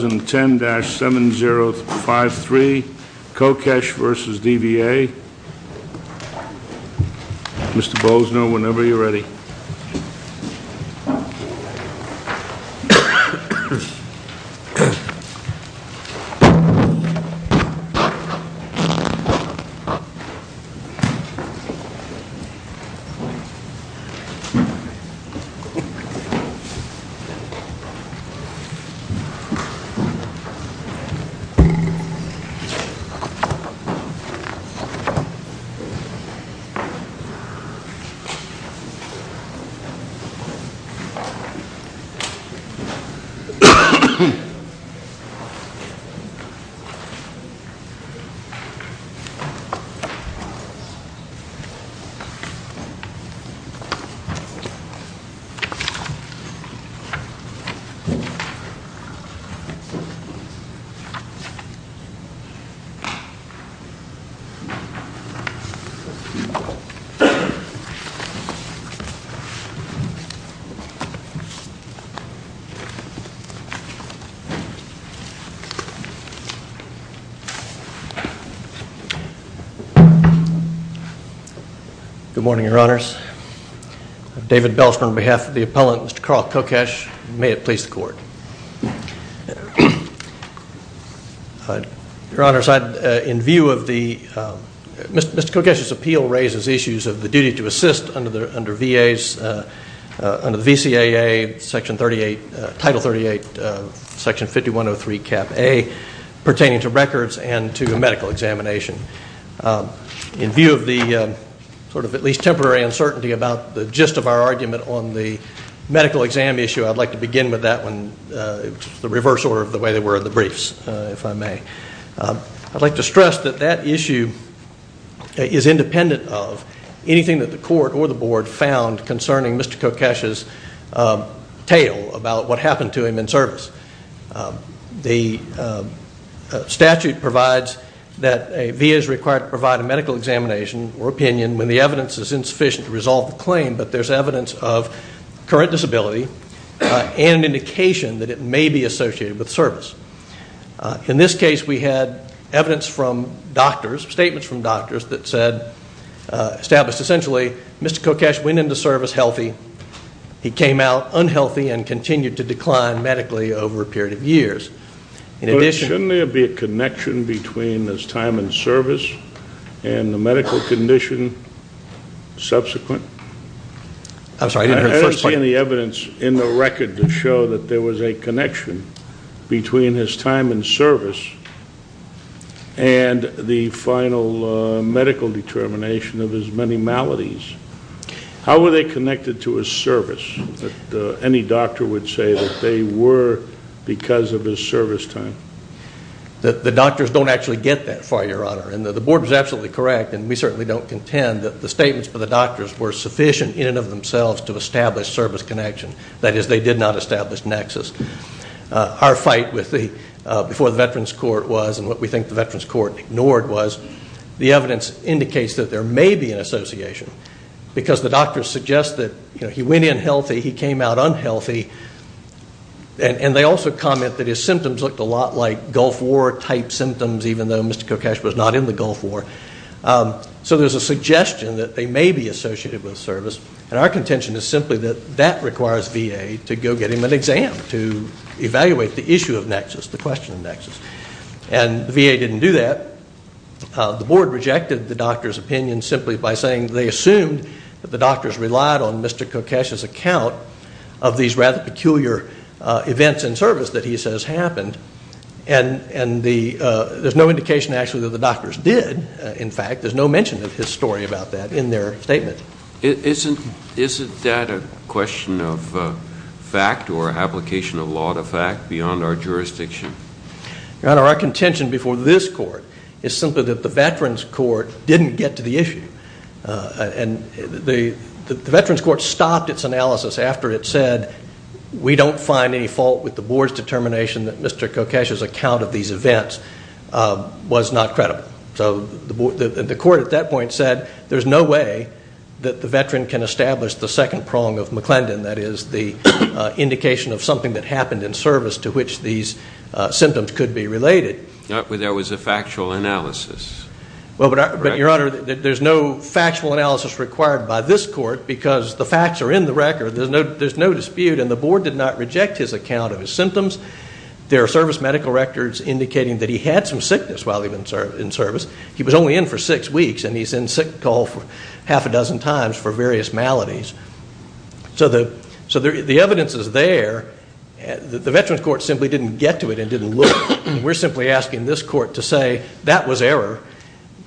2010-7053 KOKESCH v. DVA Mr. Bozner, whenever you're ready. Mr. KOKESCH v. DVA Mr. KOKESCH v. DVA Your Honor, in view of the... Mr. Kokesch's appeal raises issues of the duty to assist under VA's... under the VCAA Section 38... Title 38, Section 5103 Cap A pertaining to records and to medical examination. In view of the sort of at least temporary uncertainty about the gist of our argument on the medical exam issue, I'd like to begin with that one, the reverse order of the way they were in the briefs, if I may. I'd like to stress that that issue is independent of anything that the Court or the Board found concerning Mr. Kokesch's tale about what happened to him in service. The statute provides that a VA is required to provide a medical examination or opinion when the evidence is insufficient to resolve the claim, but there's evidence of current disability and an indication that it may be associated with service. In this case, we had evidence from doctors, statements from doctors that said... established essentially, Mr. Kokesch went into service healthy, he came out unhealthy, and continued to decline medically over a period of years. In addition... Shouldn't there be a connection between his time in service and the medical condition subsequent? I'm sorry, I didn't hear the first part. I didn't see any evidence in the record to show that there was a connection between his time in service and the final medical determination of his many maladies. How were they connected to his service? Any doctor would say that they were because of his service time. The doctors don't actually get that far, Your Honor. The board was absolutely correct, and we certainly don't contend, that the statements by the doctors were sufficient in and of themselves to establish service connection. That is, they did not establish nexus. Our fight before the Veterans Court was, and what we think the Veterans Court ignored was, the evidence indicates that there may be an association because the doctors suggest that he went in healthy, he came out unhealthy, and they also comment that his symptoms looked a lot like Mr. Kokesh was not in the Gulf War. So there's a suggestion that they may be associated with service, and our contention is simply that that requires VA to go get him an exam to evaluate the issue of nexus, the question of nexus. And the VA didn't do that. The board rejected the doctors' opinion simply by saying they assumed that the doctors relied on Mr. Kokesh's account of these rather peculiar events in service that he says happened, and there's no indication actually that the doctors did, in fact. There's no mention of his story about that in their statement. Isn't that a question of fact or application of law to fact beyond our jurisdiction? Your Honor, our contention before this court is simply that the Veterans Court didn't get to the issue, and the Veterans Court stopped its analysis after it said, we don't find any fault with the board's determination that Mr. Kokesh's account of these events was not credible. So the court at that point said there's no way that the veteran can establish the second prong of McClendon, that is the indication of something that happened in service to which these symptoms could be related. There was a factual analysis. But, Your Honor, there's no factual analysis required by this court because the facts are in the record. There's no dispute, and the board did not reject his account of his symptoms. There are service medical records indicating that he had some sickness while he was in service. He was only in for six weeks, and he's in sick call half a dozen times for various maladies. So the evidence is there. The Veterans Court simply didn't get to it and didn't look. We're simply asking this court to say that was error,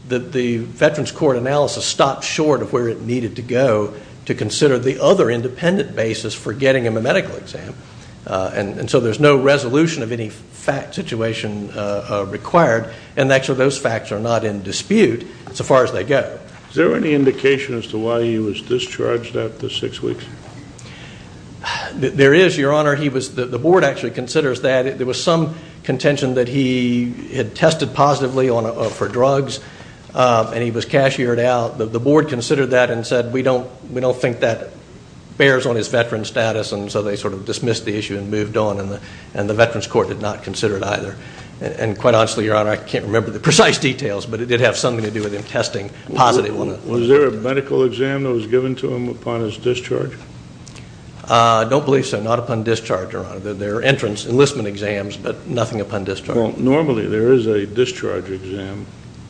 that the Veterans Court analysis stopped short of where it needed to go to consider the other independent basis for getting him a medical exam. And so there's no resolution of any fact situation required, and actually those facts are not in dispute so far as they go. Is there any indication as to why he was discharged after six weeks? There is, Your Honor. The board actually considers that. There was some contention that he had tested positively for drugs and he was cashiered out. The board considered that and said, we don't think that bears on his veteran status, and so they sort of dismissed the issue and moved on, and the Veterans Court did not consider it either. And quite honestly, Your Honor, I can't remember the precise details, but it did have something to do with him testing positive. Was there a medical exam that was given to him upon his discharge? I don't believe so, not upon discharge, Your Honor. There are entrance enlistment exams, but nothing upon discharge. Well, normally there is a discharge exam.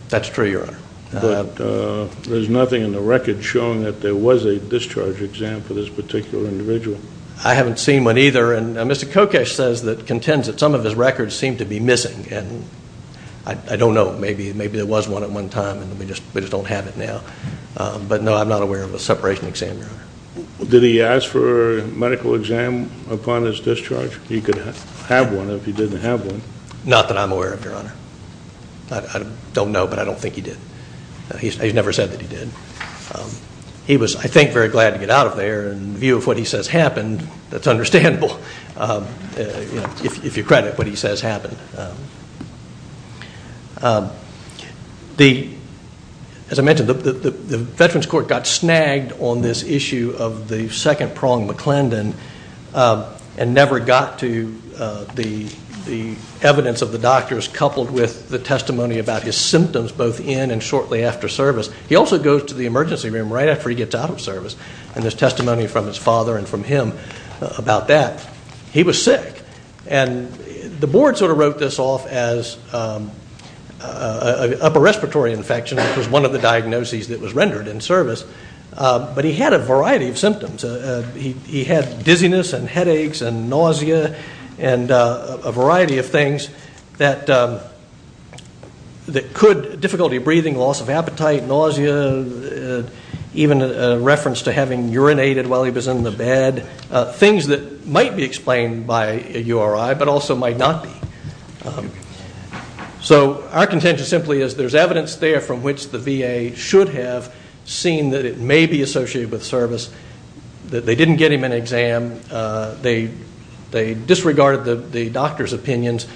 That's true, Your Honor. But there's nothing in the record showing that there was a discharge exam for this particular individual. I haven't seen one either, and Mr. Kokesh says that contends that some of his records seem to be missing, and I don't know. Maybe there was one at one time and we just don't have it now. But, no, I'm not aware of a separation exam, Your Honor. Did he ask for a medical exam upon his discharge? He could have one if he didn't have one. Not that I'm aware of, Your Honor. I don't know, but I don't think he did. He's never said that he did. He was, I think, very glad to get out of there, and in view of what he says happened, that's understandable, if you credit what he says happened. As I mentioned, the Veterans Court got snagged on this issue of the second-pronged McClendon and never got to the evidence of the doctors coupled with the testimony about his symptoms both in and shortly after service. He also goes to the emergency room right after he gets out of service, and there's testimony from his father and from him about that. He was sick. The board sort of wrote this off as an upper respiratory infection, which was one of the diagnoses that was rendered in service, but he had a variety of symptoms. He had dizziness and headaches and nausea and a variety of things that could, difficulty breathing, loss of appetite, nausea, even a reference to having urinated while he was in the bed, and things that might be explained by a URI but also might not be. So our contention simply is there's evidence there from which the VA should have seen that it may be associated with service, that they didn't get him an exam, they disregarded the doctor's opinions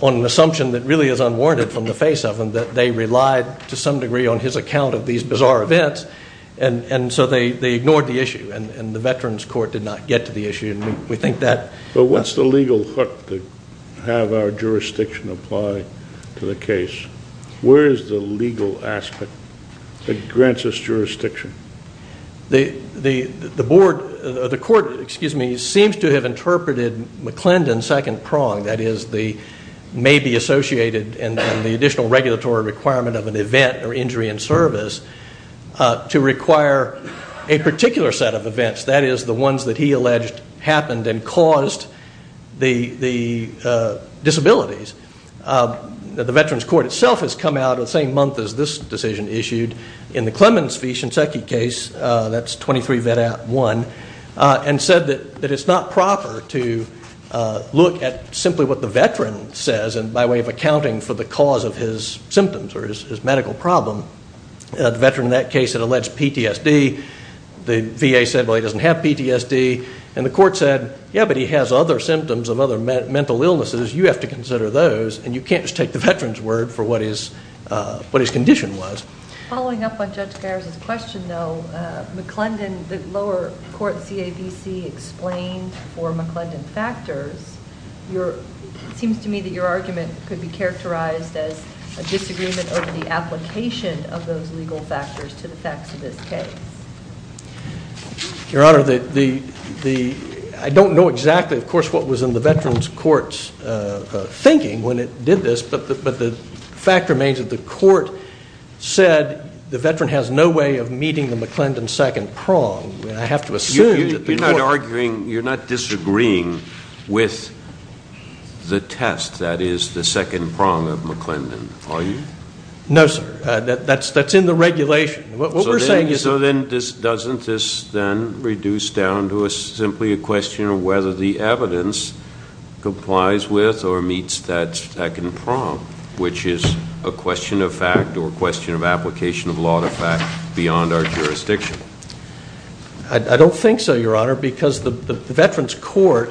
on an assumption that really is unwarranted from the face of them, that they relied to some degree on his account of these bizarre events, and so they ignored the issue, and the Veterans Court did not get to the issue, and we think that... But what's the legal hook to have our jurisdiction apply to the case? Where is the legal aspect that grants us jurisdiction? The board, the court, excuse me, seems to have interpreted McClendon's second prong, that is the may be associated and the additional regulatory requirement of an event or injury in service to require a particular set of events, that is the ones that he alleged happened and caused the disabilities. The Veterans Court itself has come out the same month as this decision issued in the Clemens v. Shinseki case, that's 23 Vedat 1, and said that it's not proper to look at simply what the veteran says and by way of accounting for the cause of his symptoms or his medical problem, the veteran in that case had alleged PTSD, the VA said, well, he doesn't have PTSD, and the court said, yeah, but he has other symptoms of other mental illnesses, you have to consider those, and you can't just take the veteran's word for what his condition was. Following up on Judge Gares' question, though, McClendon, the lower court CAVC, explained for McClendon factors, it seems to me that your argument could be characterized as a disagreement over the application of those legal factors to the facts of this case. Your Honor, I don't know exactly, of course, what was in the Veterans Court's thinking when it did this, but the fact remains that the court said the veteran has no way of meeting the McClendon second prong, and I have to assume that the court... You're not arguing, you're not disagreeing with the test that is the second prong of McClendon, are you? No, sir. That's in the regulation. What we're saying is... So then doesn't this then reduce down to simply a question of whether the evidence complies with or meets that second prong, which is a question of fact or a question of application of law to fact beyond our jurisdiction? I don't think so, Your Honor, because the Veterans Court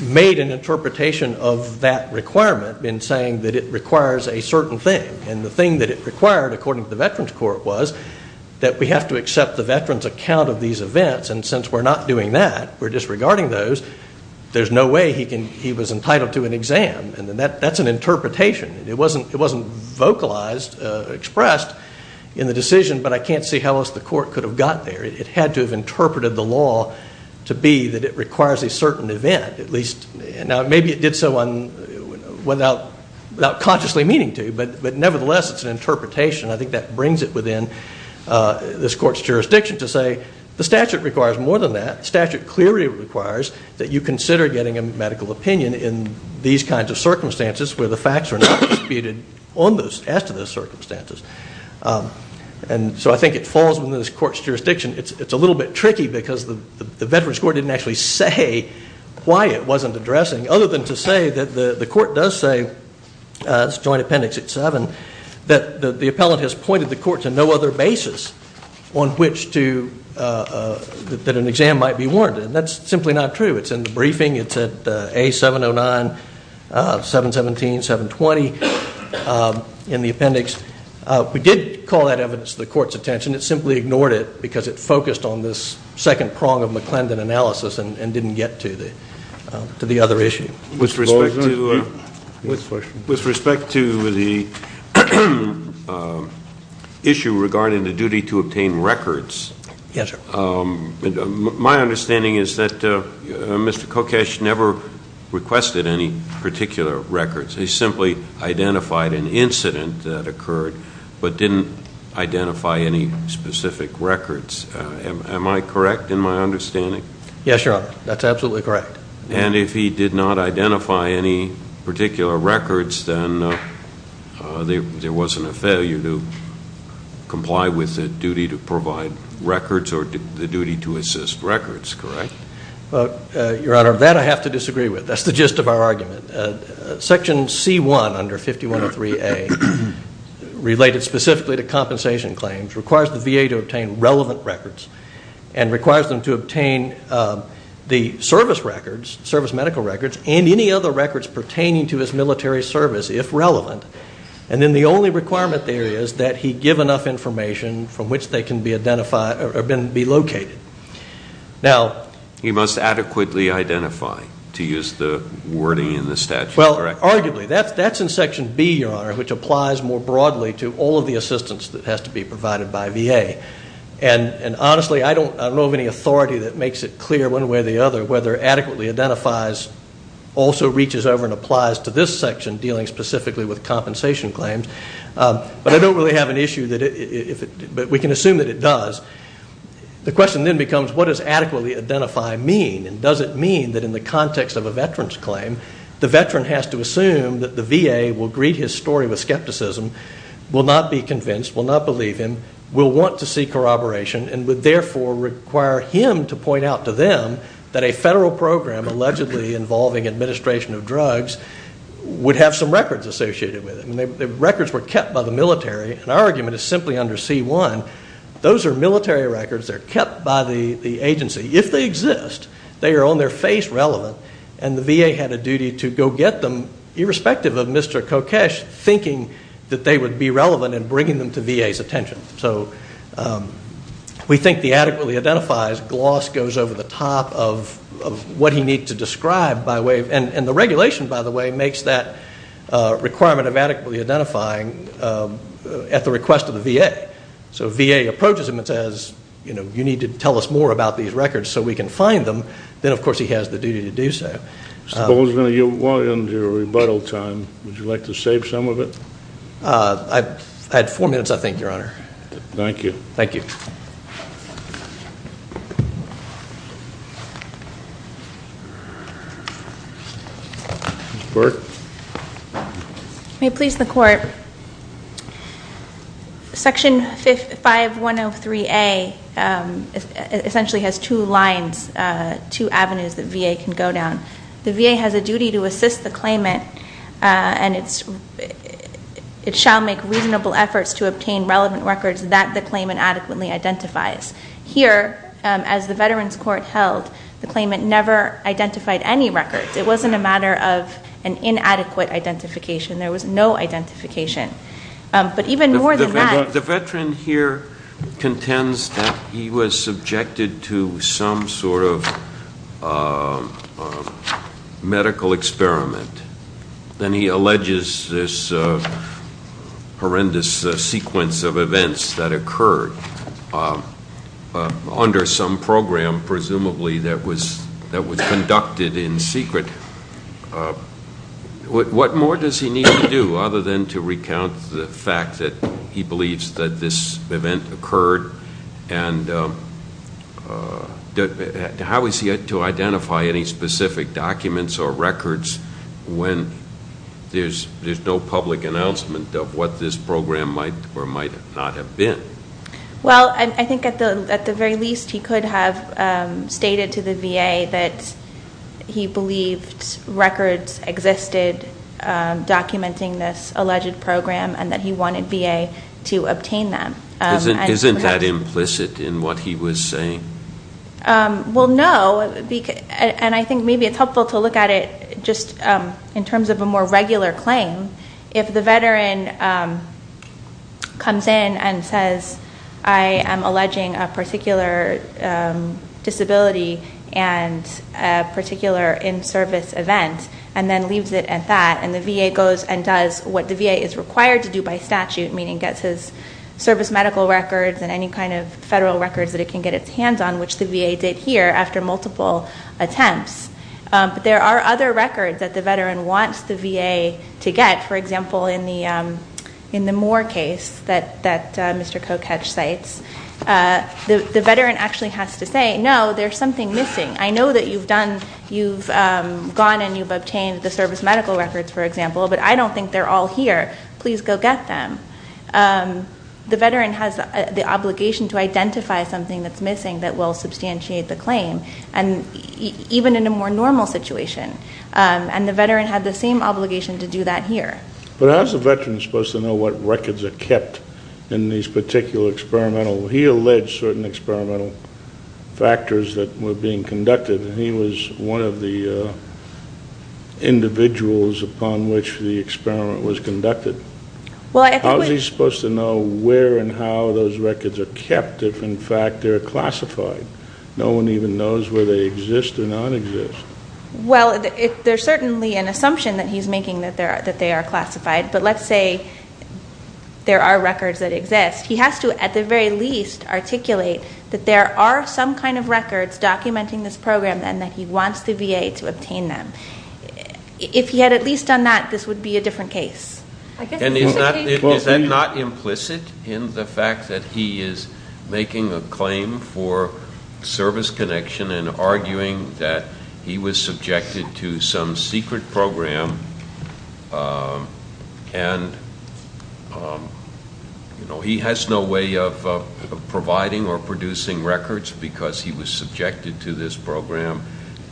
made an interpretation of that requirement in saying that it requires a certain thing, and the thing that it required, according to the Veterans Court, was that we have to accept the veteran's account of these events, and since we're not doing that, we're disregarding those, there's no way he was entitled to an exam. That's an interpretation. It wasn't vocalized, expressed in the decision, but I can't see how else the court could have got there. It had to have interpreted the law to be that it requires a certain event, at least. Now, maybe it did so without consciously meaning to, but nevertheless, it's an interpretation. I think that brings it within this court's jurisdiction to say the statute requires more than that. The statute clearly requires that you consider getting a medical opinion in these kinds of circumstances where the facts are not disputed as to those circumstances. And so I think it falls within this court's jurisdiction. It's a little bit tricky because the Veterans Court didn't actually say why it wasn't addressing, other than to say that the court does say, this joint appendix at 7, that the appellant has pointed the court to no other basis on which to... that an exam might be warranted, and that's simply not true. It's in the briefing, it's at A709, 717, 720, in the appendix. We did call that evidence to the court's attention. It simply ignored it because it focused on this second prong of McClendon analysis and didn't get to the other issue. With respect to the issue regarding the duty to obtain records, my understanding is that Mr. Kokesh never requested any particular records. He simply identified an incident that occurred, but didn't identify any specific records. Am I correct in my understanding? Yes, Your Honor. That's absolutely correct. And if he did not identify any particular records, then there wasn't a failure to comply with the duty to provide records or the duty to assist records, correct? Your Honor, that I have to disagree with. That's the gist of our argument. Section C-1 under 5103A, related specifically to compensation claims, requires the VA to obtain relevant records and requires them to obtain the service records, service medical records, and any other records pertaining to his military service, if relevant. And then the only requirement there is that he give enough information from which they can be located. He must adequately identify, to use the wording in the statute. Well, arguably. That's in Section B, Your Honor, which applies more broadly to all of the assistance that has to be provided by VA. And honestly, I don't know of any authority that makes it clear one way or the other whether adequately identifies also reaches over and applies to this section, dealing specifically with compensation claims. But I don't really have an issue. But we can assume that it does. The question then becomes, what does adequately identify mean? And does it mean that in the context of a veteran's claim, the veteran has to assume that the VA will greet his story with skepticism, will not be convinced, will not believe him, will want to see corroboration, and would therefore require him to point out to them that a federal program allegedly involving administration of drugs would have some records associated with it. The records were kept by the military. And our argument is simply under C-1. Those are military records. They're kept by the agency. If they exist, they are on their face relevant, and the VA had a duty to go get them irrespective of Mr. Kokesh thinking that they would be relevant in bringing them to VA's attention. So we think the adequately identifies gloss goes over the top of what he needs to describe. And the regulation, by the way, makes that requirement of adequately identifying at the request of the VA. So if VA approaches him and says, you know, you need to tell us more about these records so we can find them, then, of course, he has the duty to do so. Mr. Bowles, we're going to walk into your rebuttal time. Would you like to save some of it? I had four minutes, I think, Your Honor. Thank you. Thank you. Ms. Burke. May it please the Court, Section 5103A essentially has two lines, two avenues that VA can go down. The VA has a duty to assist the claimant and it shall make reasonable efforts to obtain relevant records that the claimant adequately identifies. Here, as the Veterans Court held, the claimant never identified any records. It wasn't a matter of an inadequate identification. There was no identification. But even more than that. The veteran here contends that he was subjected to some sort of medical experiment. Then he alleges this horrendous sequence of events that occurred under some program, presumably that was conducted in secret. What more does he need to do other than to recount the fact that he believes that this event occurred and how is he to identify any specific documents or records when there's no public announcement of what this program might or might not have been? Well, I think at the very least he could have stated to the VA that he believed records existed documenting this alleged program and that he wanted VA to obtain them. Isn't that implicit in what he was saying? Well, no, and I think maybe it's helpful to look at it just in terms of a more regular claim. If the veteran comes in and says, I am alleging a particular disability and a particular in-service event, and then leaves it at that and the VA goes and does what the VA is required to do by statute, meaning gets his service medical records and any kind of federal records that it can get its hands on, which the VA did here after multiple attempts. But there are other records that the veteran wants the VA to get, for example, in the Moore case that Mr. Koketsch cites. The veteran actually has to say, no, there's something missing. I know that you've gone and you've obtained the service medical records, for example, but I don't think they're all here. Please go get them. The veteran has the obligation to identify something that's missing that will substantiate the claim, even in a more normal situation. And the veteran had the same obligation to do that here. But how is a veteran supposed to know what records are kept in these particular experimental? He alleged certain experimental factors that were being conducted, and he was one of the individuals upon which the experiment was conducted. How is he supposed to know where and how those records are kept if, in fact, they're classified? No one even knows whether they exist or not exist. Well, there's certainly an assumption that he's making that they are classified. But let's say there are records that exist. He has to, at the very least, articulate that there are some kind of records documenting this program and that he wants the VA to obtain them. If he had at least done that, this would be a different case. Is that not implicit in the fact that he is making a claim for service connection and arguing that he was subjected to some secret program and he has no way of providing or producing records because he was subjected to this program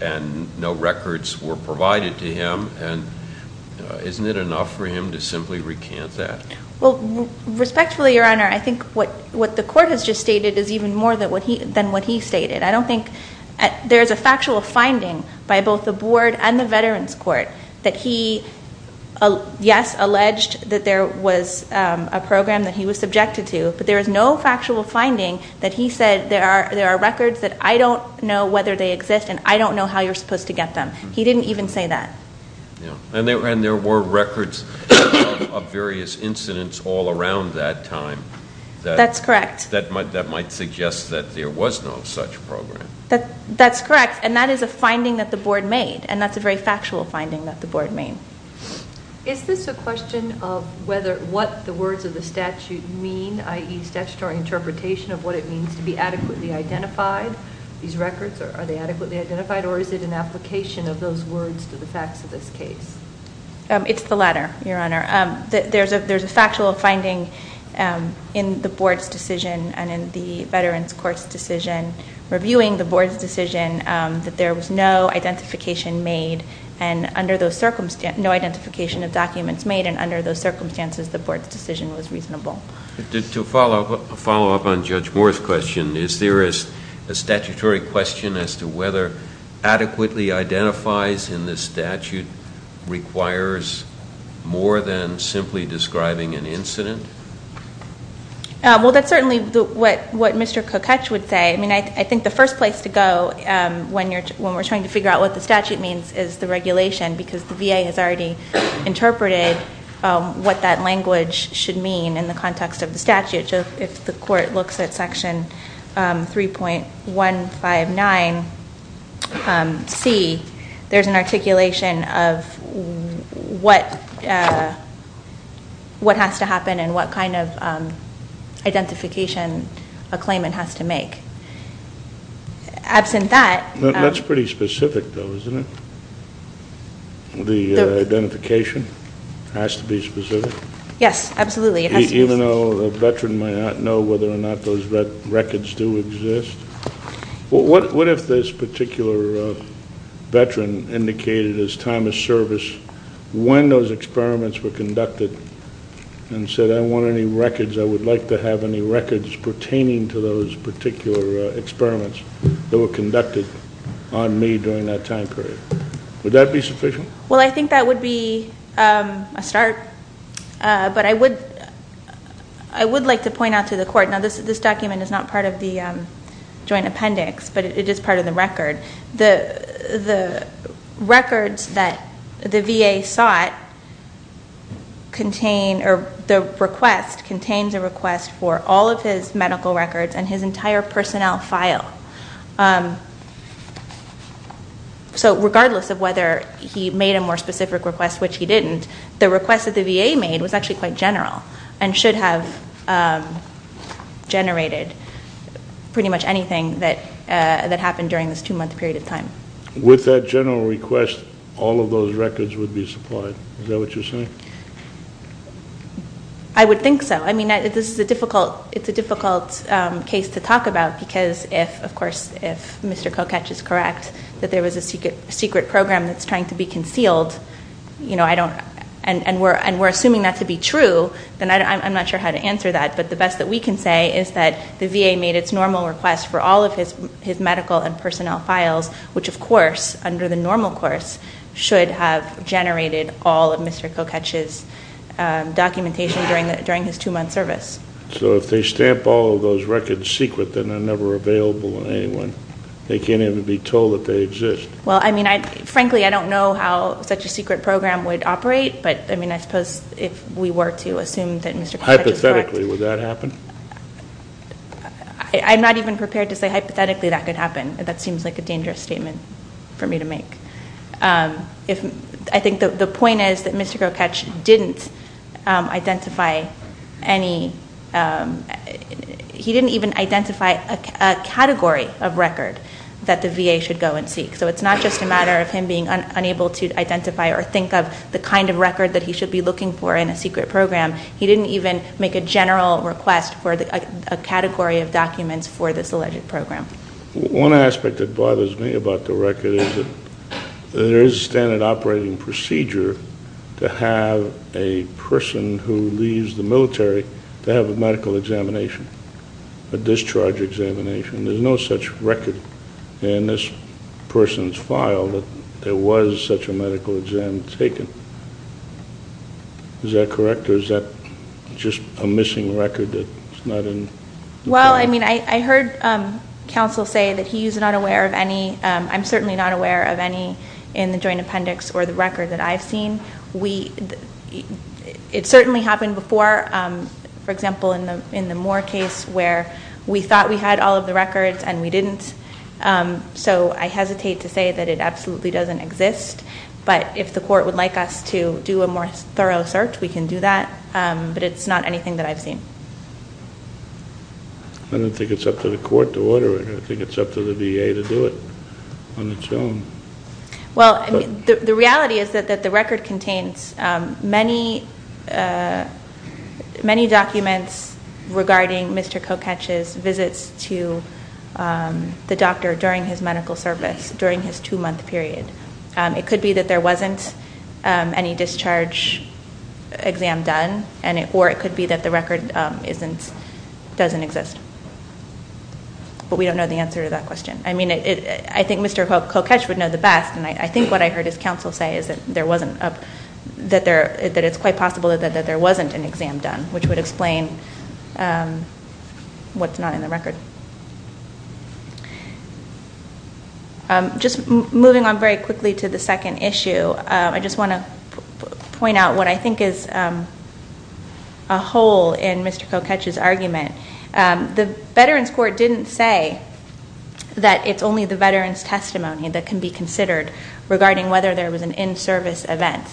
and no records were provided to him? And isn't it enough for him to simply recant that? Well, respectfully, Your Honor, I think what the court has just stated is even more than what he stated. I don't think there's a factual finding by both the Board and the Veterans Court that he, yes, alleged that there was a program that he was subjected to, but there is no factual finding that he said there are records that I don't know whether they exist and I don't know how you're supposed to get them. He didn't even say that. And there were records of various incidents all around that time. That's correct. That might suggest that there was no such program. That's correct, and that is a finding that the Board made, and that's a very factual finding that the Board made. Is this a question of what the words of the statute mean, i.e., statutory interpretation of what it means to be adequately identified? These records, are they adequately identified, or is it an application of those words to the facts of this case? It's the latter, Your Honor. There's a factual finding in the Board's decision and in the Veterans Court's decision reviewing the Board's decision that there was no identification made and under those circumstances, no identification of documents made, and under those circumstances the Board's decision was reasonable. To follow up on Judge Moore's question, is there a statutory question as to whether adequately identifies in the statute requires more than simply describing an incident? Well, that's certainly what Mr. Kocuch would say. I mean, I think the first place to go when we're trying to figure out what the statute means is the regulation, because the VA has already interpreted what that language should mean in the context of the statute. If the Court looks at Section 3.159C, there's an articulation of what has to happen and what kind of identification a claimant has to make. That's pretty specific, though, isn't it? The identification has to be specific? Yes, absolutely. Even though a Veteran might not know whether or not those records do exist? What if this particular Veteran indicated his time of service when those experiments were conducted and said, I want any records, I would like to have any records pertaining to those particular experiments that were conducted on me during that time period? Would that be sufficient? Well, I think that would be a start. But I would like to point out to the Court, now this document is not part of the joint appendix, but it is part of the record. The records that the VA sought contain, or the request contains a request for all of his medical records and his entire personnel file. So regardless of whether he made a more specific request, which he didn't, the request that the VA made was actually quite general and should have generated pretty much anything that happened during this two-month period of time. With that general request, all of those records would be supplied. Is that what you're saying? I would think so. I mean, it's a difficult case to talk about because if, of course, if Mr. Kocatch is correct that there was a secret program that's trying to be concealed, and we're assuming that to be true, then I'm not sure how to answer that. But the best that we can say is that the VA made its normal request for all of his medical and personnel files, which, of course, under the normal course, should have generated all of Mr. Kocatch's documentation during his two-month service. So if they stamp all of those records secret, then they're never available to anyone. They can't even be told that they exist. Well, I mean, frankly, I don't know how such a secret program would operate. But, I mean, I suppose if we were to assume that Mr. Kocatch is correct. Hypothetically, would that happen? I'm not even prepared to say hypothetically that could happen. That seems like a dangerous statement for me to make. I think the point is that Mr. Kocatch didn't identify any, he didn't even identify a category of record that the VA should go and seek. So it's not just a matter of him being unable to identify or think of the kind of record that he should be looking for in a secret program. He didn't even make a general request for a category of documents for this alleged program. One aspect that bothers me about the record is that there is a standard operating procedure to have a person who leaves the military to have a medical examination, a discharge examination. There's no such record in this person's file that there was such a medical exam taken. Is that correct, or is that just a missing record that's not in? Well, I mean, I heard counsel say that he is not aware of any, I'm certainly not aware of any in the joint appendix or the record that I've seen. It certainly happened before. For example, in the Moore case where we thought we had all of the records and we didn't. So I hesitate to say that it absolutely doesn't exist. But if the court would like us to do a more thorough search, we can do that. But it's not anything that I've seen. I don't think it's up to the court to order it. I think it's up to the VA to do it on its own. Well, the reality is that the record contains many documents regarding Mr. Koketsch's visits to the doctor during his medical service, during his two-month period. It could be that there wasn't any discharge exam done, or it could be that the record doesn't exist. But we don't know the answer to that question. I think Mr. Koketsch would know the best, and I think what I heard his counsel say is that it's quite possible that there wasn't an exam done, which would explain what's not in the record. Just moving on very quickly to the second issue, I just want to point out what I think is a hole in Mr. Koketsch's argument. The Veterans Court didn't say that it's only the veterans' testimony that can be considered regarding whether there was an in-service event.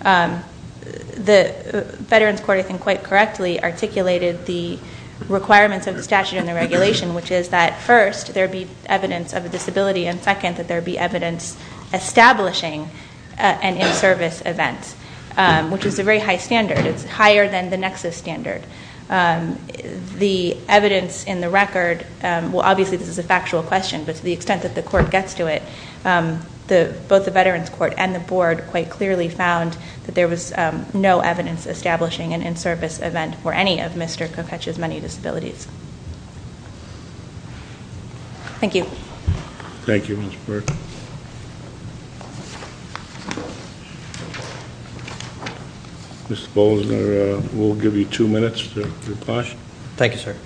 The Veterans Court, I think quite correctly, articulated the requirements of the statute and the regulation, which is that first, there be evidence of a disability, and second, that there be evidence establishing an in-service event, which is a very high standard. It's higher than the nexus standard. The evidence in the record, well, obviously this is a factual question, but to the extent that the Court gets to it, both the Veterans Court and the Board quite clearly found that there was no evidence establishing an in-service event for any of Mr. Koketsch's many disabilities. Thank you. Thank you, Ms. Burke. Thank you. Mr. Bolzner, we'll give you two minutes for your question. Thank you, sir.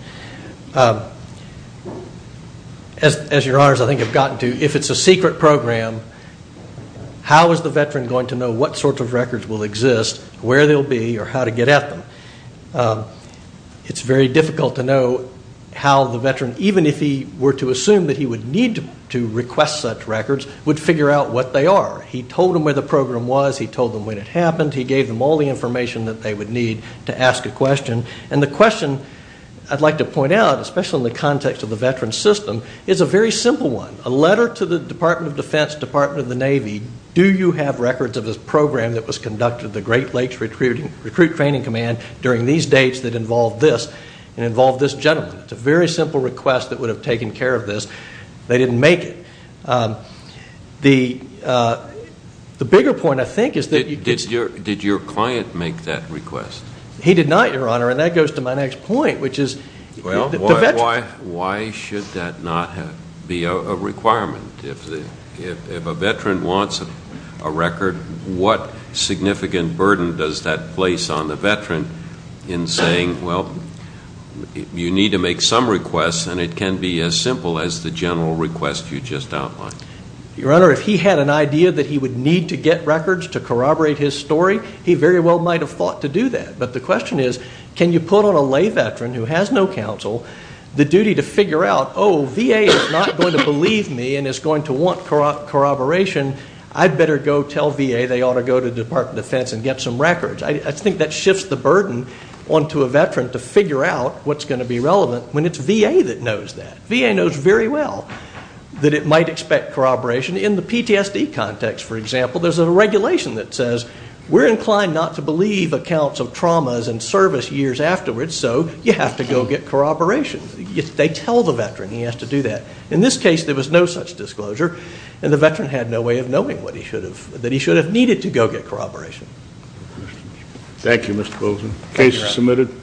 As your honors, I think, have gotten to, if it's a secret program, how is the veteran going to know what sorts of records will exist, where they'll be, or how to get at them? It's very difficult to know how the veteran, even if he were to assume that he would need to request such records, would figure out what they are. He told them where the program was. He told them when it happened. He gave them all the information that they would need to ask a question. And the question I'd like to point out, especially in the context of the veteran system, is a very simple one. A letter to the Department of Defense, Department of the Navy, do you have records of this program that was conducted, the Great Lakes Recruit Training Command, during these dates that involved this, and involved this gentleman? It's a very simple request that would have taken care of this. They didn't make it. The bigger point, I think, is that you get to- Did your client make that request? He did not, your honor, and that goes to my next point, which is- Well, why should that not be a requirement? If a veteran wants a record, what significant burden does that place on the veteran in saying, well, you need to make some requests, and it can be as simple as the general request you just outlined? Your honor, if he had an idea that he would need to get records to corroborate his story, he very well might have fought to do that. But the question is, can you put on a lay veteran who has no counsel the duty to figure out, oh, VA is not going to believe me and is going to want corroboration. I'd better go tell VA they ought to go to the Department of Defense and get some records. I think that shifts the burden onto a veteran to figure out what's going to be relevant when it's VA that knows that. VA knows very well that it might expect corroboration. In the PTSD context, for example, there's a regulation that says, we're inclined not to believe accounts of traumas and service years afterwards, so you have to go get corroboration. They tell the veteran he has to do that. In this case, there was no such disclosure, and the veteran had no way of knowing that he should have needed to go get corroboration. Thank you, Mr. Bozeman. Case is submitted.